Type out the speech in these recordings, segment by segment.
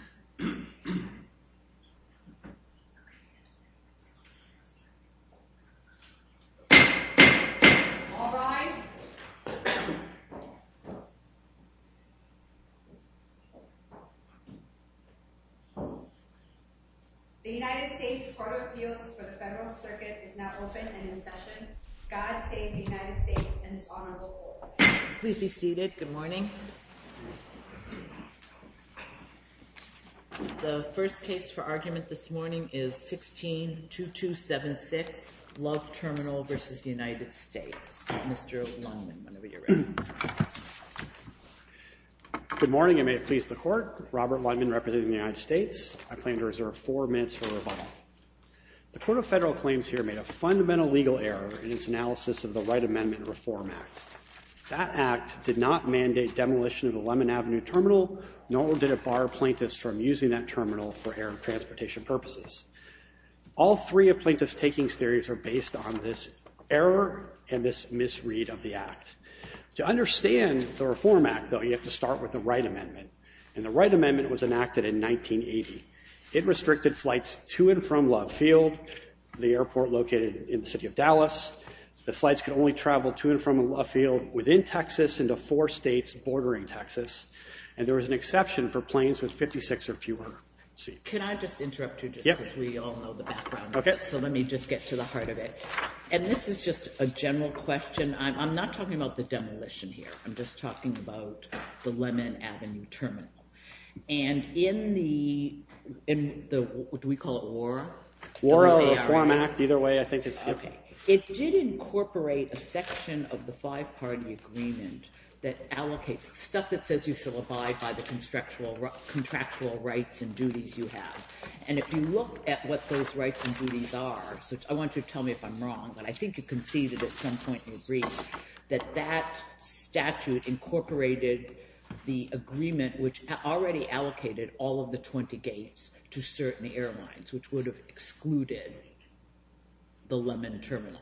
It's an honor to serve with you, Peace Corps. Immigration Resolution So I turned to Michael who was working on the loan. It was almost a cracker. He said he would kill me if I gave him money. He said if the money was not transferred to his account, the federal debt would suffer because of it and It was just like the credit fund being surreal. But bribery only was fun. All rise. The United States Court of Appeals for the Federal Circuit is now open and in session. God save the United States and its honorable court. Please be seated. Good morning. The first case for argument this morning is 16-2276, Love Terminal v. United States. Mr. Lundman, whenever you're ready. Good morning and may it please the court. Robert Lundman representing the United States. I plan to reserve four minutes for rebuttal. The Court of Federal Claims here made a fundamental legal error in its analysis of the Right Amendment Reform Act. That act did not mandate demolition of the Lemon Avenue Terminal, nor did it bar plaintiffs from using that terminal for air and transportation purposes. All three of plaintiff's takings theories are based on this error and this misread of the act. To understand the Reform Act, though, you have to start with the Right Amendment. And the Right Amendment was enacted in 1980. It restricted flights to and from Love Field, the airport located in the city of Dallas. The flights could only travel to and from Love Field within Texas into four states bordering Texas. And there was an exception for planes with 56 or fewer seats. Can I just interrupt you just because we all know the background. So let me just get to the heart of it. And this is just a general question. I'm not talking about the demolition here. I'm just talking about the Lemon Avenue Terminal. And in the, do we call it ORRA? ORRA or the Reform Act, either way I think it's the same. It did incorporate a section of the Five-Party Agreement that allocates stuff that says you shall abide by the contractual rights and duties you have. And if you look at what those rights and duties are, I don't know if I'm wrong, but I think you can see that at some point in the agreement that that statute incorporated the agreement which already allocated all of the 20 gates to certain airlines, which would have excluded the Lemon Terminal.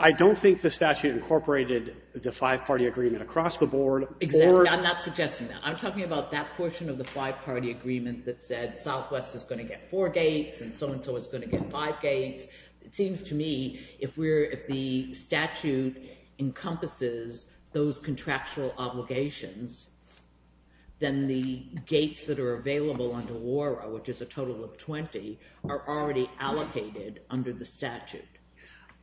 I don't think the statute incorporated the Five-Party Agreement across the board. Exactly. I'm not suggesting that. I'm talking about that portion of the Five-Party Agreement that said Southwest is going to get four gates and so-and-so is going to get five gates. It seems to me if we're, if the statute encompasses those contractual obligations, then the gates that are available under ORRA, which is a total of 20, are already allocated under the statute.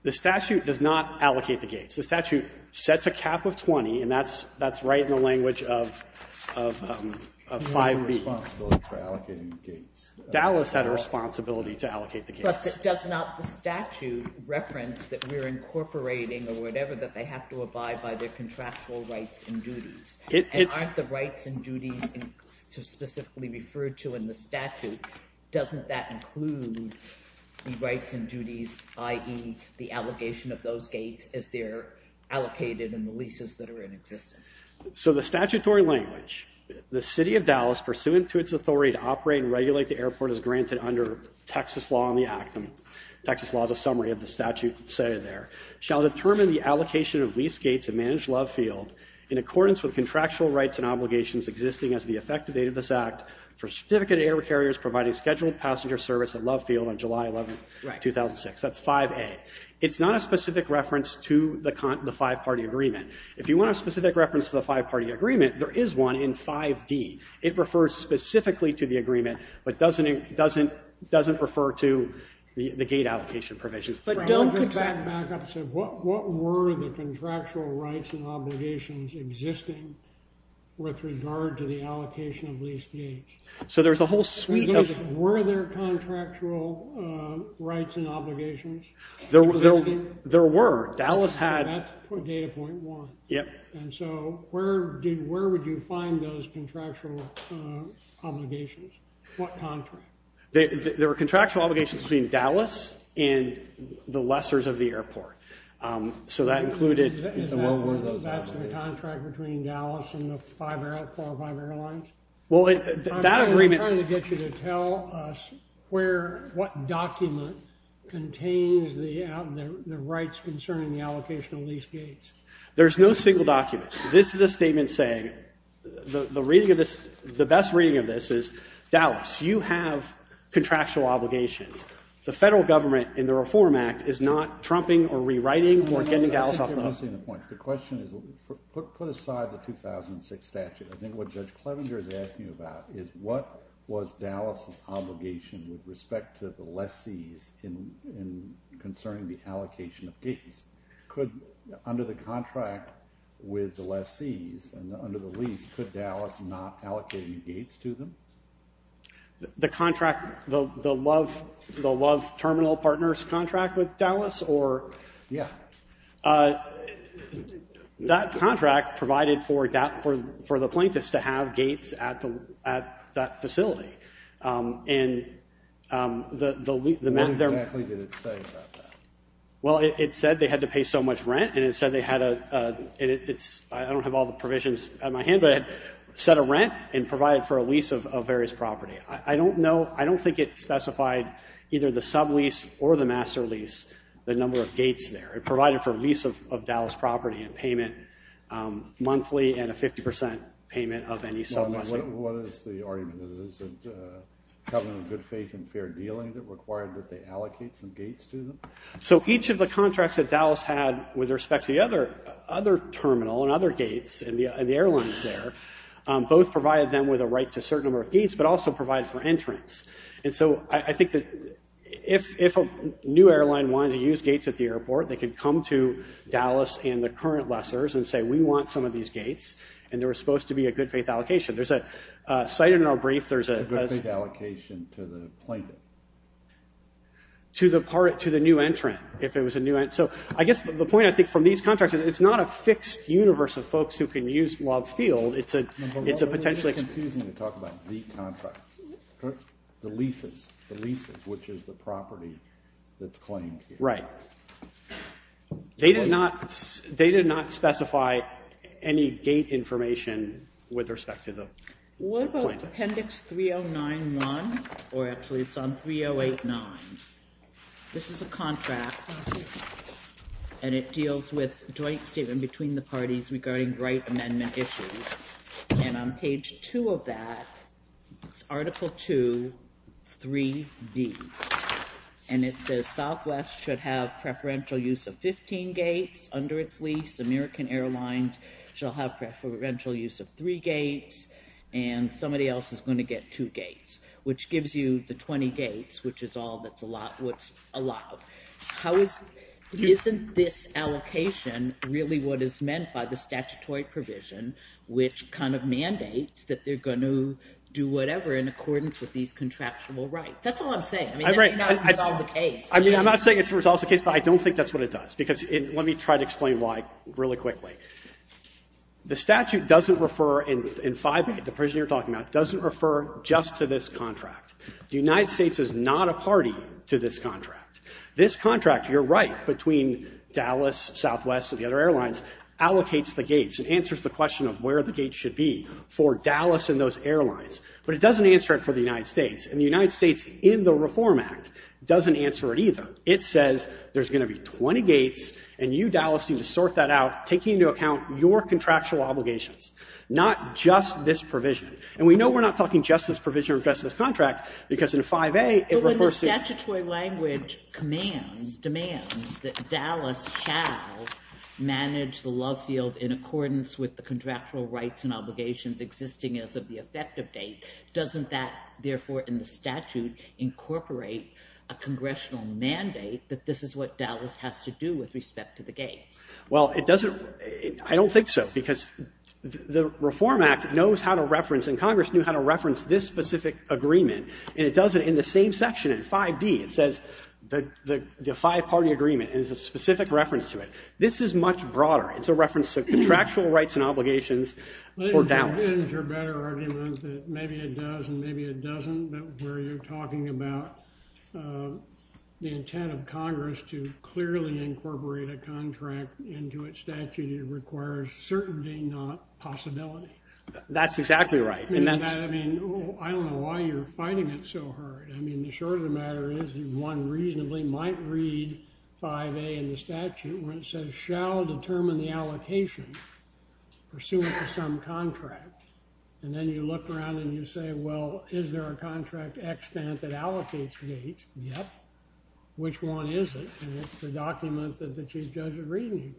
The statute does not allocate the gates. The statute sets a cap of 20, and that's right in the language of five people. It has a responsibility for allocating gates. Dallas had a responsibility to allocate the gates. But does not the statute reference that we're incorporating or whatever, that they have to abide by their contractual rights and duties? And aren't the rights and duties specifically referred to in the statute? Doesn't that include the rights and duties, the allocation of those gates as they're allocated in the leases that are in existence? So the statutory language, the City of Dallas pursuant to its authority to operate and regulate the airport as granted under Texas law and the Act, and Texas law is a summary of the statute that's stated there, shall determine the allocation of leased gates at Managed Love Field in accordance with contractual rights and obligations existing as the effective date of this Act for certificate air carriers providing scheduled passenger service at Love Field on July 11, 2006. That's 5A. It's not a specific reference to the five-party agreement. If you want a specific reference to the five-party agreement, there is one in 5D. It refers specifically to the agreement, but doesn't refer to the gate allocation provisions. But don't contract backups of what were the contractual rights and obligations existing with regard to the allocation of leased gates? So there's a whole suite of... Were there contractual rights and obligations existing? There were. Dallas had... That's data point one. Yep. And so where would you find those contractual obligations? What contract? There were contractual obligations between Dallas and the lessors of the airport. So that included... And what were those obligations? That's the contract between Dallas and the four or five airlines? Well, that agreement... I'm trying to get you to tell us what document contains the rights concerning the allocation of leased gates. There's no single document. This is a statement saying... The best reading of this is Dallas, you have contractual obligations. The federal government in the Reform Act is not trumping or rewriting or getting Dallas off the hook. I think you're missing the point. The question is, put aside the 2006 statute. I think what Judge Clevenger is asking about is what was Dallas's obligation with respect to the lessees concerning the allocation of gates. Could... Under the contract with the lessees and under the lease, could Dallas not allocate gates to them? The contract... The Love Terminal Partners contract with Dallas? Yeah. That contract provided for the plaintiffs to have gates at that facility. And the... What exactly did it say about that? It said that there was a contract between Dallas Dallas. Well, it said they had to pay so much rent and it said they had a... I don't have all the provisions at my hand, but it said a rent and provided for a lease of various property. I don't know... I don't think it specified either the sublease or the master lease, the number of gates there. It provided for a lease of Dallas property. So each of the contracts that Dallas had with respect to the other terminal and other gates and the airlines there, both provided them with a right to a certain number of gates, but also provided for entrance. And so I think that if a new airline wanted to use gates at the airport, they could come to the new entrant, if it was a new... So I guess the point I think from these contracts is it's not a fixed universe of folks who can use Love Field. It's a potentially... It's confusing to talk about the contracts. The leases. The leases, which is the property that's claimed here. Right. They did not specify any gate information with respect to the... What about appendix 3091? Or actually it's on 3089. This is a contract, and it deals with joint statement between the parties regarding right amendment issues. And on page two of that, it's article two, three B. And it says Southwest should have preferential use of 15 gates under its lease. American Airlines shall have preferential use of three gates, and somebody else is going to get two gates, which gives you the 20 gates, which is all that's allowed. How is... Isn't this allocation really what is meant by the statutory provision, which kind of mandates that they're going to do whatever in accordance with these contractual rights? That's all I'm saying. That may not resolve the case. I'm not saying it resolves the case, but I don't think that's what it does, because let me try to explain why really quickly. The statute doesn't refer, in 5A, the provision you're talking about, doesn't refer just to this contract. The United States is not a party to this contract. This contract, you're right, between Dallas, Southwest, and the other airlines, allocates the gates and answers the question of where the gates should be for It doesn't answer it for the United States, and the United States in the Reform Act doesn't answer it either. It says there's going to be 20 gates, and you, Dallas, need to sort that out, taking into account your contractual obligations, not just this provision. And we know we're not talking just to this contract, because in 5A, it refers to When the statutory language commands, demands, that Dallas shall manage the love field in accordance with the contractual rights and obligations existing as of the effective date, doesn't that therefore in the statute incorporate a congressional mandate that this is what Dallas has to do with respect to the gates? Well, it doesn't, I don't think so, because the Reform Act knows how to reference, and Congress knew how to reference this specific agreement, and it does it in the same section in 5D. It says the five-party agreement and there's a specific reference to it. This is much broader. It's a reference to contractual rights and obligations for Dallas. Isn't your better argument that maybe it does and maybe it doesn't, but where you're talking about the intent of Congress to clearly incorporate a contract into its statute, it requires certainty, not possibility. That's exactly right. I mean, I don't know why you're fighting it so hard. I mean, the short of the matter is that one reasonably might read 5A in the statute where it says shall determine the allocation pursuant to some contract, and then you look around and you say, well, is there a contract extent that allocates gate? Yep. Which one is it? And it's the document that the Chief Judge is reading.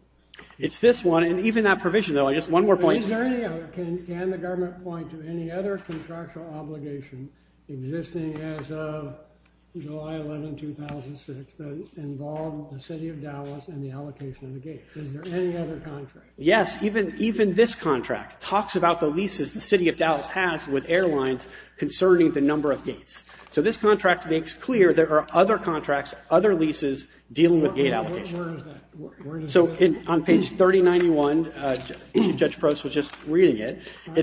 It's this one, and even that provision, though, I guess one more point. Can the government point to any other contractual obligation existing as of July 11, 2006 that involved the City of Dallas and the allocation of the gate? Is there any other contract? Yes, even this contract talks about the leases the City of Dallas has with airlines concerning the number of gates. So this contract makes clear there are other rights. It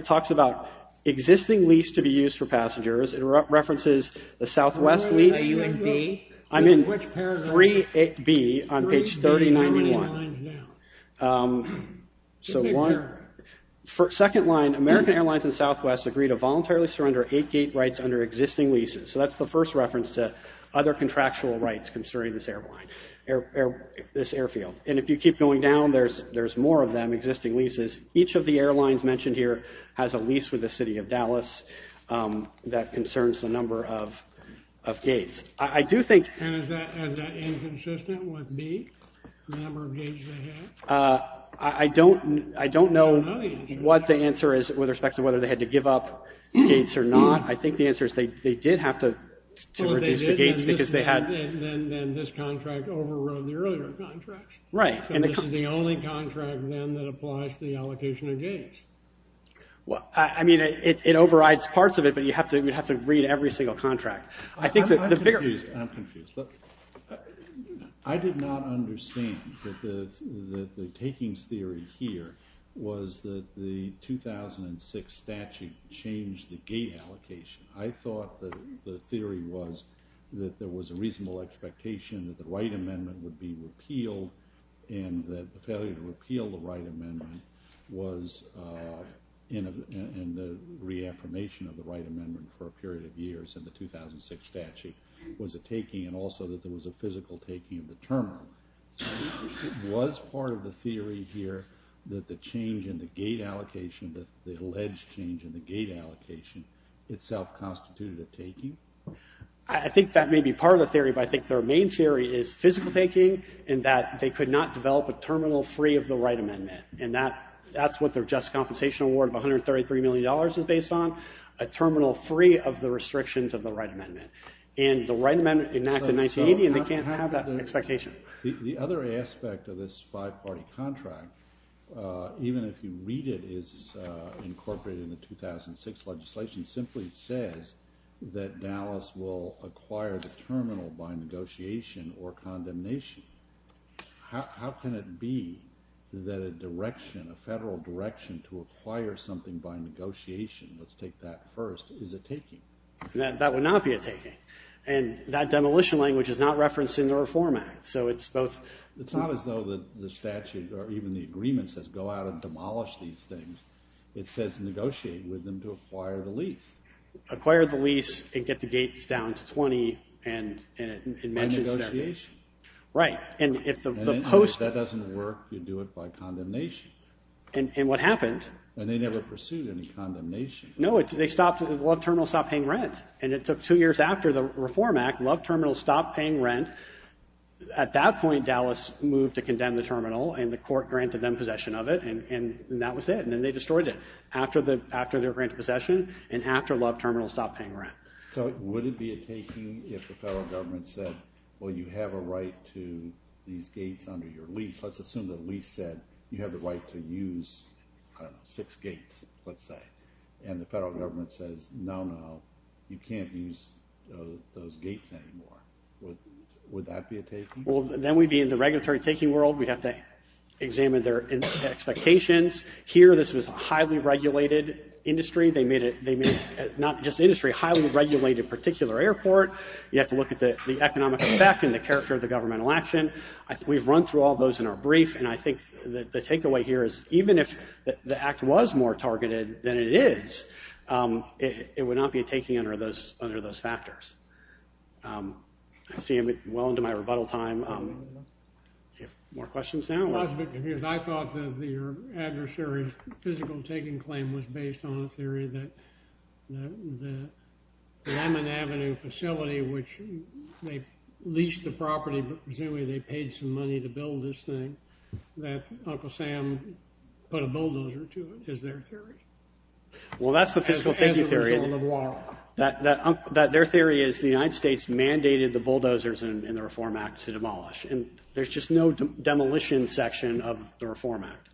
talks about existing lease to be used for passengers. It references the Southwest lease. Are you in B? I'm in 3B on page 3091. Second line, American Airlines and Southwest agreed to voluntarily surrender eight gate rights under existing leases. So that's the first reference to other contractual rights concerning this airline, this airfield. And if you keep going down, there's more of them, existing leases. Each of the airlines mentioned here has a lease with the City of Dallas that concerns the number of gates. Is that inconsistent with B, the number of gates they have? I don't know what the answer is with respect to whether they had to give up gates or not. I think the answer is they did have to reduce the gates because they had... Then this contract overrode the earlier contracts. Right. And this is the only contract then that applies to the allocation of gates. Well, I mean, it overrides parts of it, but you have to read every single contract. I think the bigger... I'm confused. I'm confused. Look, I did not understand that the takings theory here was that the 2006 statute changed the gate allocation. I thought that the theory was that there was a reasonable expectation that the right amendment would be repealed and that the failure to repeal the right amendment was in the reaffirmation of the right amendment for a period of years in the 2006 statute was a taking and also that there was a physical taking of the terminal. Was part of the theory here that the change in the gate allocation, the alleged change in the gate allocation itself constituted a taking? I think that may be part of the theory but I think their main theory is physical taking and that they could not develop a terminal free of the right amendment and that's what their just compensation award of $133 million is based on, a terminal free of the restrictions of the right amendment and the right amendment enacted in 1980 and they can't have that expectation. The other aspect of this five party contract, even if you read it, is incorporated in the 2006 legislation, simply says that Dallas will acquire the terminal by negotiation or condemnation. How can it be that a direction, a federal direction to acquire something by negotiation, let's take that first, is a taking? That would not be a taking and that demolition language is not referencing the reform act. It's not as though the statute or even the agreement says go out and demolish these things, it says negotiate with them to acquire the lease. Acquire the lease and get the gates down to 20 and it mentions that. By negotiation. Right. And if that doesn't work, you do it by condemnation. And what happens is just after the reform act, Love Terminal stopped paying rent, at that point Dallas moved to condemn the terminal and the court granted them possession of it and that was it. And then they destroyed it after they were granted possession and after Love Terminal stopped paying rent. So would it be a taking if the federal government said, well you have a right to these gates under your lease, let's assume the lease said you have the right to use six gates, let's say, and the federal government says no, no, you can't use those gates anymore. Would that be a taking? Then we'd be in the regulatory taking world, we'd have to examine their expectations, here this was a highly regulated industry, they made a highly regulated particular airport, you have to look at the economic effect and the character of the governmental action, we've run through all those in our brief and I think the take away here is even if the act was more targeted than it is, it would not be a taking under those factors. I see I'm well into my rebuttal time, do you have more questions now? I thought that your adversary's physical taking claim was based on a theory that the Lemon Avenue facility which they leased the property but presumably they paid some money to build this thing, that Uncle Sam put a bulldozer to it, is their theory that their theory is the United States mandated the bulldozers in the reform act to demolish and there's just no demolition section of the reform act.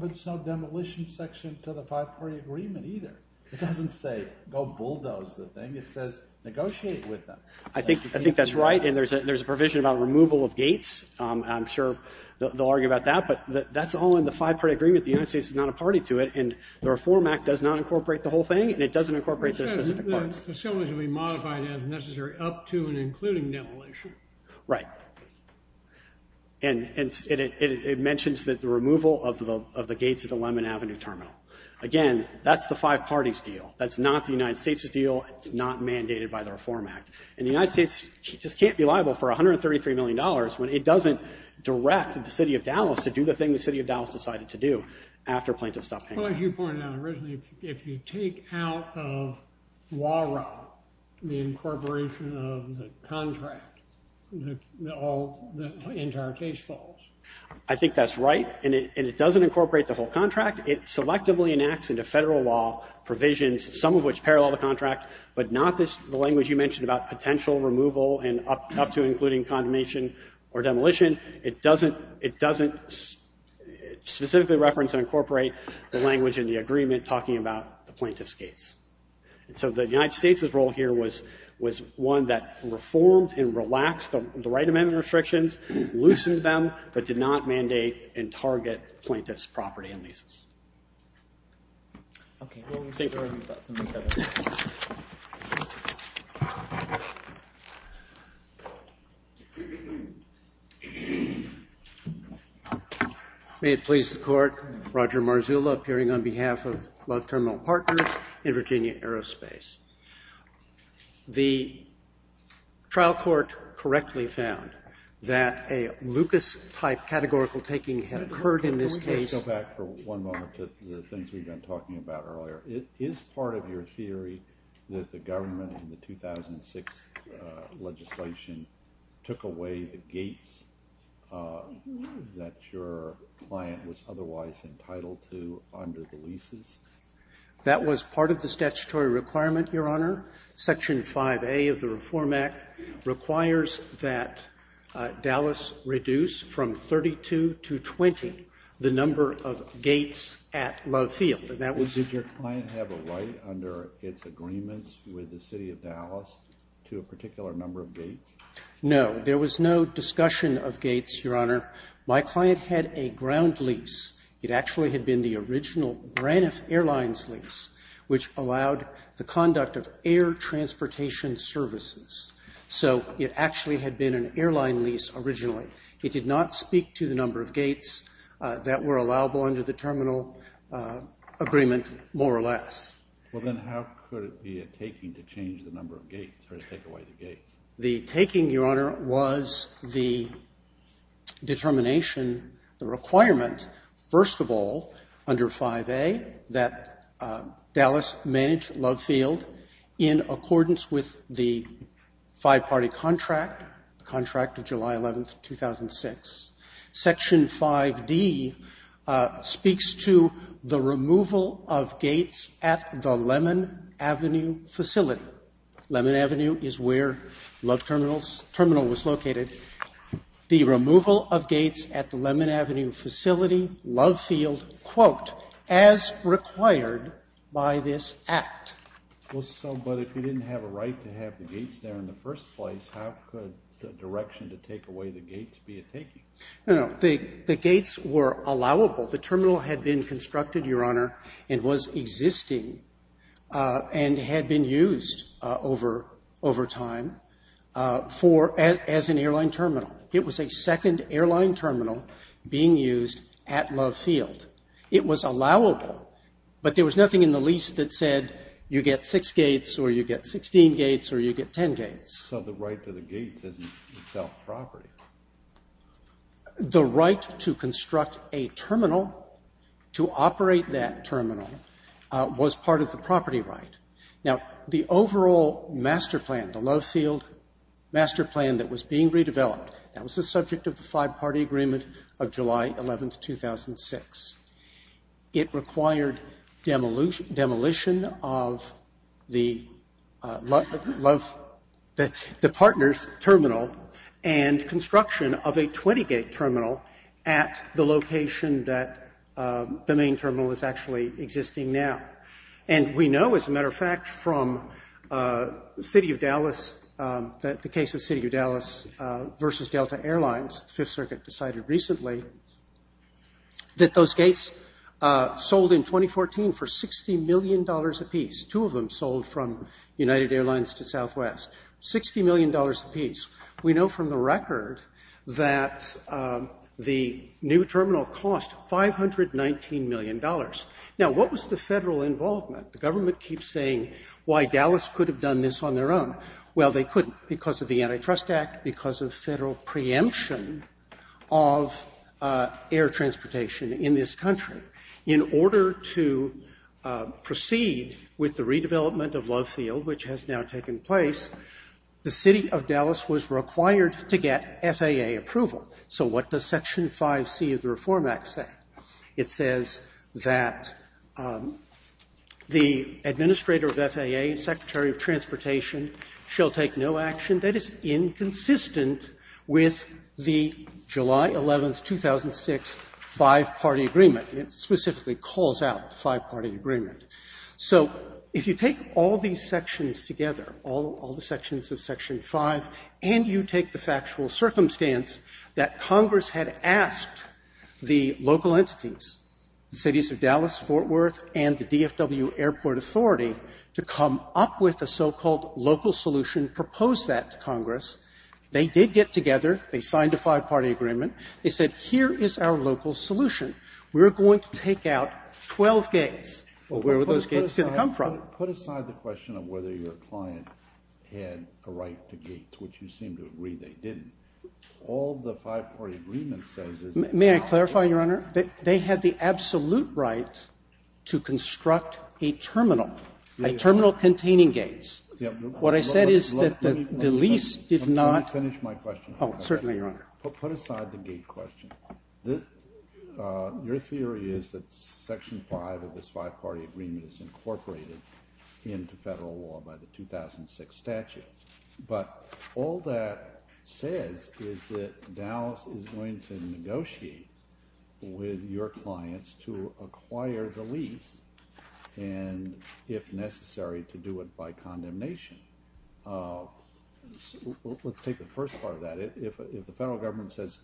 There's no demolition section to the five party agreement either, it doesn't say go bulldoze the thing, it says negotiate with them. I think that's right and there's a provision about removal of gates, I'm sure they'll argue about that, but that's all in the five party agreement, the United States is not a party to it, and the reform act does not incorporate the whole thing, and it doesn't incorporate those specific parts. Right, and it mentions the removal of the gates of the Lemon Avenue terminal. Again, that's the five parties deal, that's not the United States' deal, it's not mandated by the reform act, and the United States just can't be liable for $133 million when it doesn't direct the city of Dallas to do the thing the city of Dallas decided to do. Well, as you pointed out originally, if you take out the incorporation of the contract, the entire case falls. I think that's right, and it doesn't incorporate the whole contract, it selectively enacts federal law provisions, some of which parallel the contract, but not the language you mentioned about potential removal and up to including condemnation or demolition, it doesn't specifically reference and incorporate the language in the agreement talking about the plaintiff's case. So the United States' role here was one that reformed and relaxed the right amendment restrictions, loosened them, but did not mandate and target plaintiff's property and leases. May it please the court, Roger Marzullo appearing on behalf of Love Terminal Partners in Virginia Aerospace. The trial court correctly found that a Lucas-type categorical taking had occurred in this case. Go back for one moment to the things we've been talking about earlier. Is part of your theory that the government in the 2006 legislation took away the gates that your client was otherwise entitled to under the leases? That was part of the statutory requirement, Your Honor. Section 5A of the Reform Act requires that Dallas reduce from 32 to 20 the number of gates at Love Field. And that was your client. Did your client have a right under its agreements with the City of Dallas to allow the conduct of air transportation services? So it actually had been an airline lease originally. It did not speak to the number of gates that were allowable under the terminal agreement more or less. Well then how could it be a taking to change the number of gates or to take away the gates? The taking, Your Honor, was the determination, the requirement, first of all, under 5A, that Dallas manage Love Field in accordance with the five-party contract, the contract of July 11, 2006. Section 5D speaks to the removal of gates at the Lemon Avenue facility. Lemon Avenue is where Love Terminal was located. The removal of gates at the Lemon Avenue facility, Love Field, quote, as required by this act. But if you didn't have a right to have the gates there in the first place, how could the direction to take away the gates be a taking? No, no. The gates were allowable. The terminal had been constructed, Your Honor, and was existing, and had been used over time as an airline terminal. It was a second airline terminal being used at Love Field. It was allowable, but there was nothing in the property. The right to construct a terminal, to operate that terminal, was part of the property right. Now, the overall master plan, the Love Field master plan that was being redeveloped, that was the subject of the five-party agreement of July 11, 2006. It required demolition of the partners' terminal, and construction of a 20-gate terminal at the location that the main terminal is actually existing now. And we know, as a matter of fact, from the City of Dallas, that the case of City of Dallas versus Delta Airlines, the Fifth Circuit decided recently, that those two would cost $519 million apiece. We know from the record that the new terminal cost $519 million. Now, what was the federal involvement? The government keeps saying why Dallas could have done this on their own. Well, they couldn't because of the Antitrust Act, because of federal preemption of air transportation in this country. In order to proceed with the of Love Field, which has now taken place, the City of Dallas was required to get FAA approval. So what does Section It says there is no action that is inconsistent with the July 11, 2006, Five-Party Agreement. It specifically calls out the Five-Party Agreement. So if you take all these sections together, all the sections of Section 5, and you take the factual circumstance that Congress had asked the local government to do, and you propose that to Congress, they did get together, they signed a Five-Party Agreement, they said here is our local solution. We're going to take out 12 gates. Well, where were those gates going to come from? Kennedy Put aside the question of whether your client had a right to gates, which you seem to agree they didn't. All the Five-Party Agreement says is that they had the absolute right to construct a terminal, a terminal containing gates. What I said is that the lease did not Oh, certainly, Your Honor. Kennedy Put aside the gate question. Your theory is that Section 5 of this 2006 statute. But all that says is that Dallas is going to negotiate with your clients to acquire the lease and, if necessary, to do it by condemnation. Let's take the first part of that. If the federal government says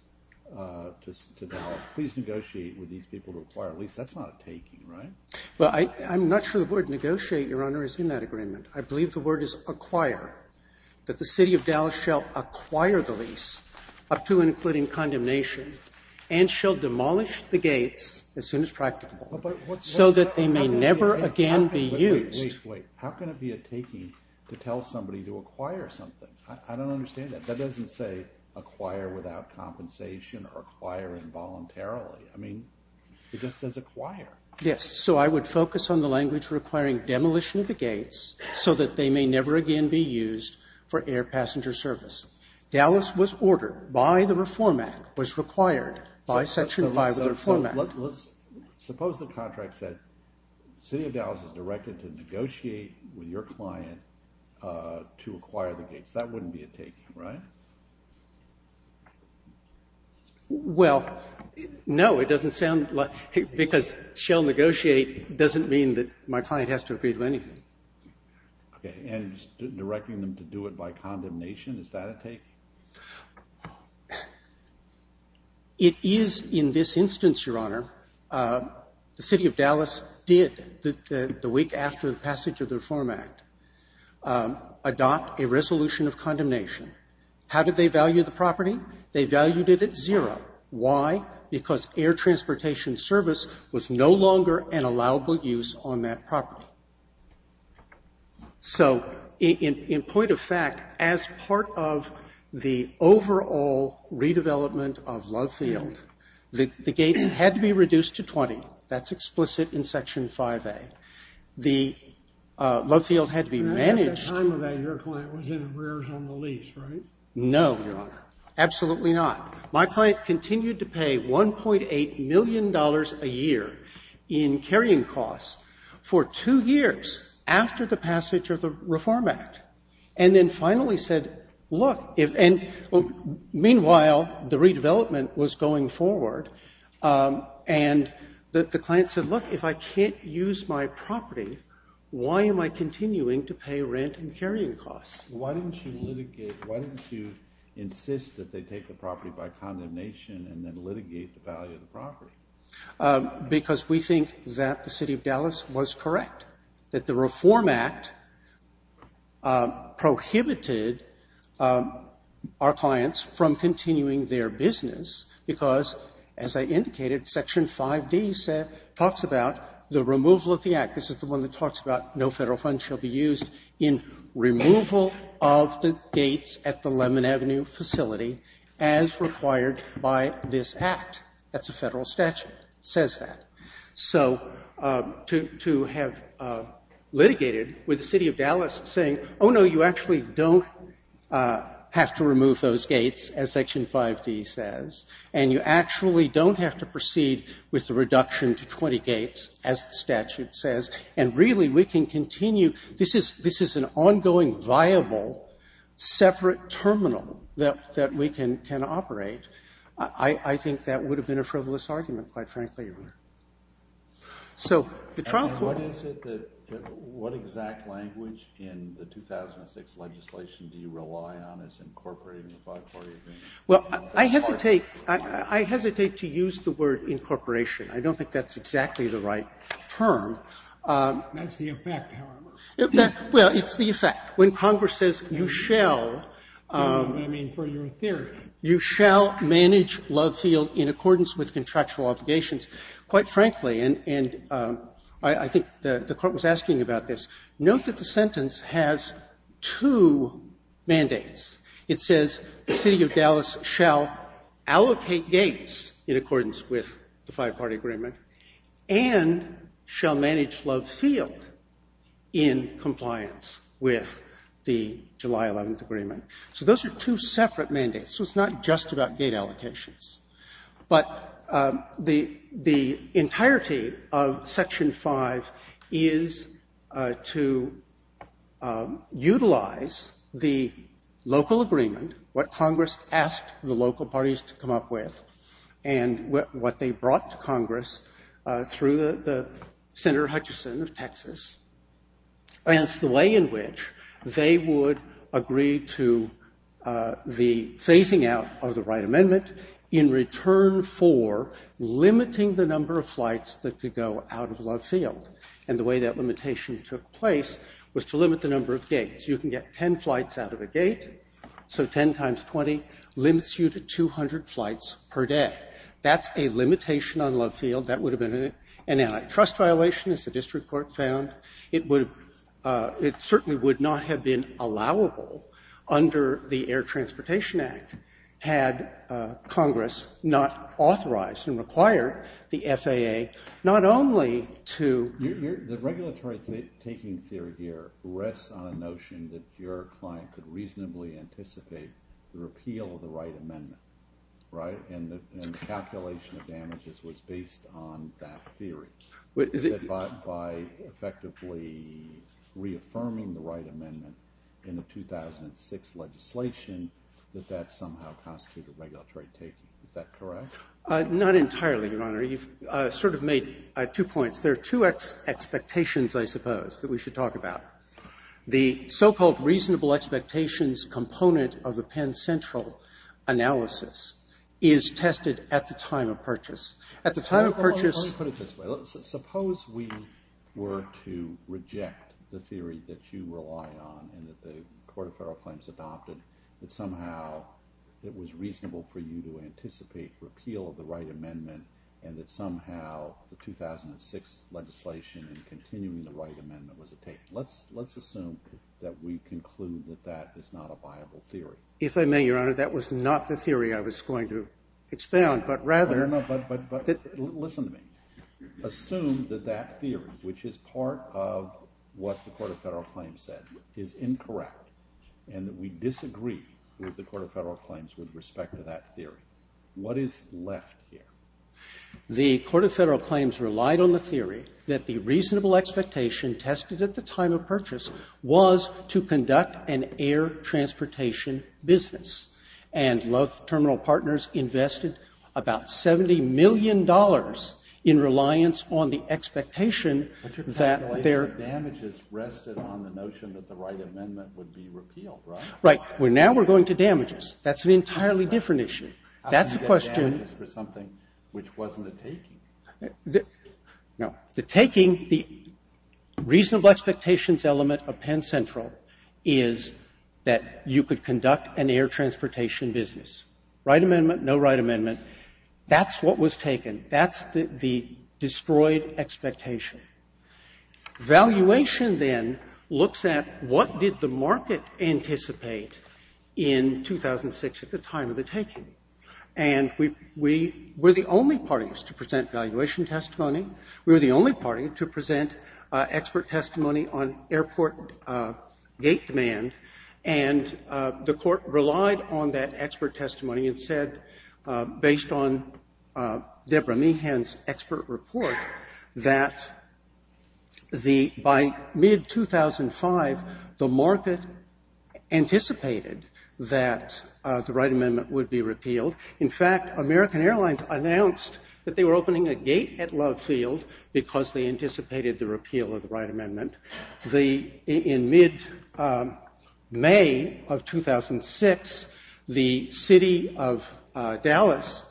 to Dallas, please negotiate with these people to acquire a lease, that's not a taking, right? Well, I'm not sure the word negotiate, Your Honor, is in that agreement. I believe the word is acquire, that the city of Dallas shall acquire the lease up to and including condemnation and shall demolish the gates as soon as practicable so that they may never again be used. Wait, how can it be a taking to tell somebody to acquire something? I don't understand that. That doesn't say acquire without compensation or acquire involuntarily. I mean, it just says acquire. Yes, so I would focus on the language requiring demolition of the gates so that they may never again be used for air passenger service. Dallas was not a place to negotiate with your client to acquire the gates. That wouldn't be a taking, right? Well, no, it doesn't sound like because shall negotiate doesn't mean that my client has to agree to anything. Okay, and directing them to adopt a resolution of condemnation. How did they value the property? They valued it at zero. Why? Because air transportation service was no longer an allowable use on that property. So, in point of fact, as part of the overall redevelopment of Love Field, the gates had to be reduced to 20. That's explicit in Section 5A. The Love Field had managed. Your client was in arrears on the lease, right? No, Your Honor. Absolutely not. My client continued to pay $1.8 million a year in carrying costs for two years after the passage of the Reform Act and then finally said, look, meanwhile, the redevelopment was going forward and the client said, look, if I can't use my property, why am I continuing to pay rent and carrying costs? Why didn't you insist that they take the property by condemnation and then litigate the value of the property? Because we think that the City of Dallas was correct, that the Reform Act prohibited our clients from continuing their business because, as I indicated, Section 5D talks about the removal of the Act. This is the one that talks about no Federal funds shall be used in removal of the gates at the Lemon Avenue facility as required by this Act. That's a Federal statute that says that. So to have litigated with the City of Dallas saying, oh, no, you actually don't have to remove those gates as Section 5D says and you actually don't have to proceed with the reduction to 20 gates as the statute says and, really, we can continue. This is an ongoing, viable, separate terminal that we can operate. I think that would have been a frivolous argument, quite frankly. So the trial court... What exact language in the 2006 legislation do you rely on as incorporating the biparty agreement? Well, I hesitate to use the word incorporation. I don't think that's exactly the right term. That's the effect, however. Well, it's the effect. When Congress says you shall manage Lovefield in accordance with contractual obligations, quite frankly, and I think the court was asking about this, note that the sentence has two mandates. It says the city of Dallas shall allocate gates in accordance with the five-party agreement and shall manage Lovefield in compliance with the July 11th agreement. So those are two separate mandates. So it's not just about gate allocations. But the entirety of Section 5 is to utilize the local agreement, what Congress asked the local parties to come up with, and what they brought to Congress through the Senator Hutchison of Texas. And it's the way in which they would agree to the phasing out of the right amendment in return for limiting the number of flights that could go out of Lovefield. And the way that limitation took place was to limit the of flights per day. That's a limitation on Lovefield. That would have been an antitrust violation, as the district court found. It certainly would not have been allowable under the Air Transportation Act, had Congress not authorized and required the right amendment in the 2006 legislation that that somehow constituted regulatory taking. Is that correct? Not entirely, Your Honor. You've sort of made two points. There are two expectations, I suppose, that we should talk about. The so-called reasonable expectations component of the Penn Central analysis is tested at the time of purchase. Suppose we were to reject the theory that you rely on and that the Court of Federal Claims adopted, that somehow it was reasonable for you to anticipate repeal of the right amendment and that somehow the 2006 legislation and continuing the right amendment was a take. Let's assume that we conclude that that is not a viable theory. If I may, Your Honor, that was not the theory I was going to expound, but rather I don't know, but listen to me. Assume that that theory, which is part of what the Court of Federal Claims said, is incorrect and that we disagree with the Court of Federal Claims with respect to that theory. What is left here? The Court of Federal Claims that the right amendment would be repealed. Right. Now we're going to damages. That's an entirely different issue. The taking, the reasonable expectations element of Penn Central is that you could conduct an air transportation business. Right amendment, no right amendment. That's what That's the destroyed expectation. Valuation, then, looks at what did the market anticipate in 2006 at the time of the taking. And we were the only parties to present valuation testimony. We were the only party to present expert testimony on airport gate demand. And the court relied on that expert testimony and said based on Debra Meehan's expert report that the by mid 2005, the market anticipated that the right amendment would be repealed. In fact, American Airlines announced that they were going to repeal the right amendment. In mid May of 2006, the city of Dallas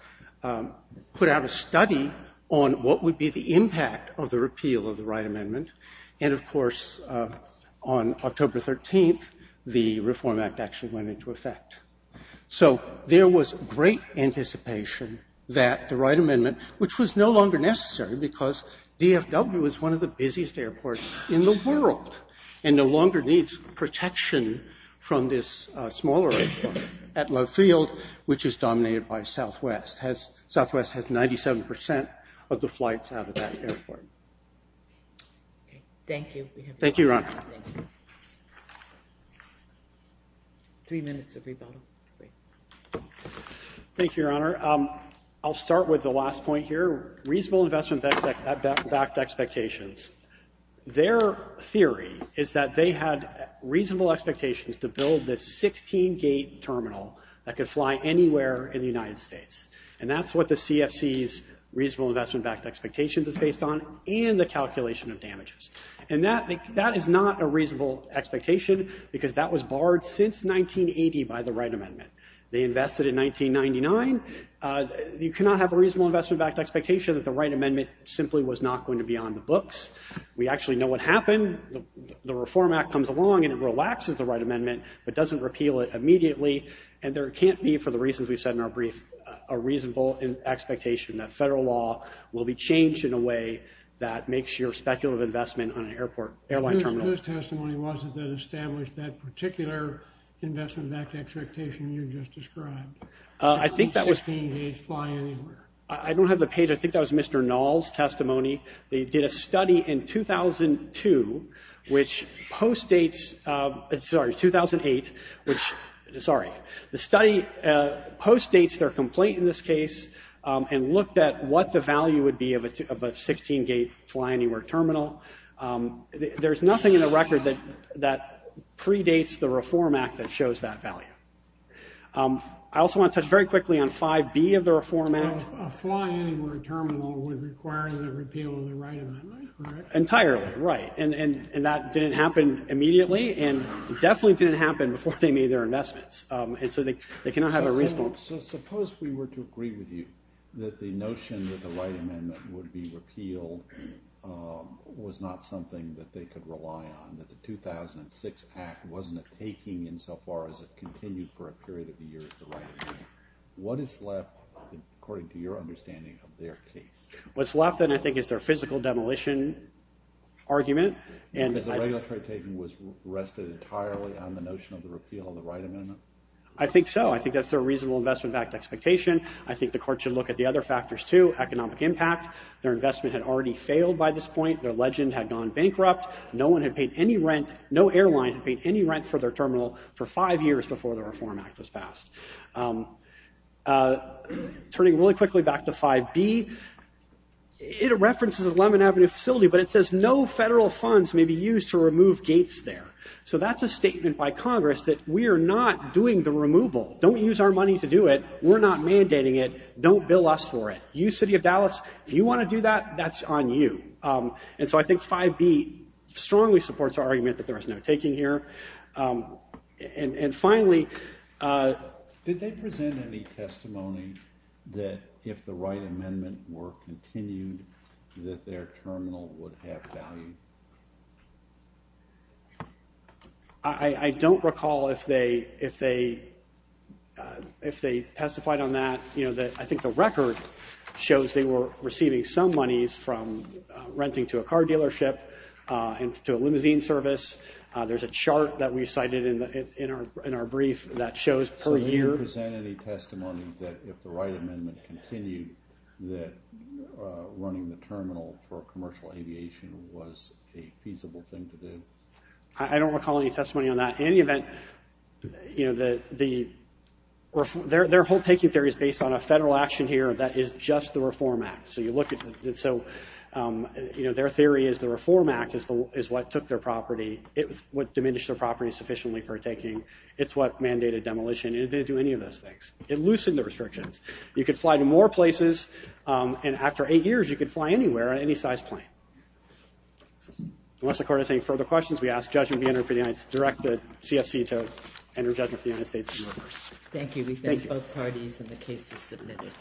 put out a study on what would be the impact of the repeal of the right amendment. And, of course, on October 13th, the reform act actually went into effect. we have the largest airport in the world and no longer needs protection smaller airport which is dominated by Southwest. Southwest has 97% of the flights out of that airport. Thank you, your honor. Three minutes of rebuttal. Thank you, your honor. I'll start with the last point here. Reasonable investment backed expectations. Their theory is that they had reasonable expectations to build the 16 gate terminal that could fly anywhere in the world. That was barred since 1980 by the right amendment. You cannot have a reasonable expectation that the right amendment was not going to be on the books. The reform act comes along and doesn't repeal it immediately. There can't be a reasonable expectation that federal law will be changed in a way that makes your investment on an airline terminal. Whose testimony was it that established that expectation you just described? I don't have the page. I think that was the case. The study postdates their complaint in this case and looked at what the value would be of a fly anywhere terminal. There's nothing in the record that predates the reform act that shows that value. I also want to point out it didn't happen before they made their investments. So suppose we were to agree with you that the notion that the right amendment would be repealed was not something that they could rely on. The 2006 act wasn't a change in the right amendment. What's left is their physical demolition argument. I think that's their reasonable investment expectation. I think the court should look at the other factors. Their investment had already failed. No airline had paid any rent for their terminal for five years before the reform act was passed. Turning back to 5B, it says no federal funds may be used to remove gates. That's a statement by Congress that we are not doing the removal. Don't use our money to do it. Don't bill us for it. If you want to do that, that's on you. 5B strongly supports the argument that there is no taking here. Finally... Did they present any testimony that if the right amendment continued, running the terminal for commercial aviation was a feasible I don't recall any testimony on that. In any event, the federal government has said that they will continue to do same thing. Their whole taking theory is based on a federal action that is just the reform act. Their theory is the reform act is what took their property. It loosened the restrictions. You could fly to more places and after eight years you could fly anywhere on any size plane. Unless the court has any further questions, we ask the CFC to enter judgment. Thank you. We thank both parties and the case is submitted.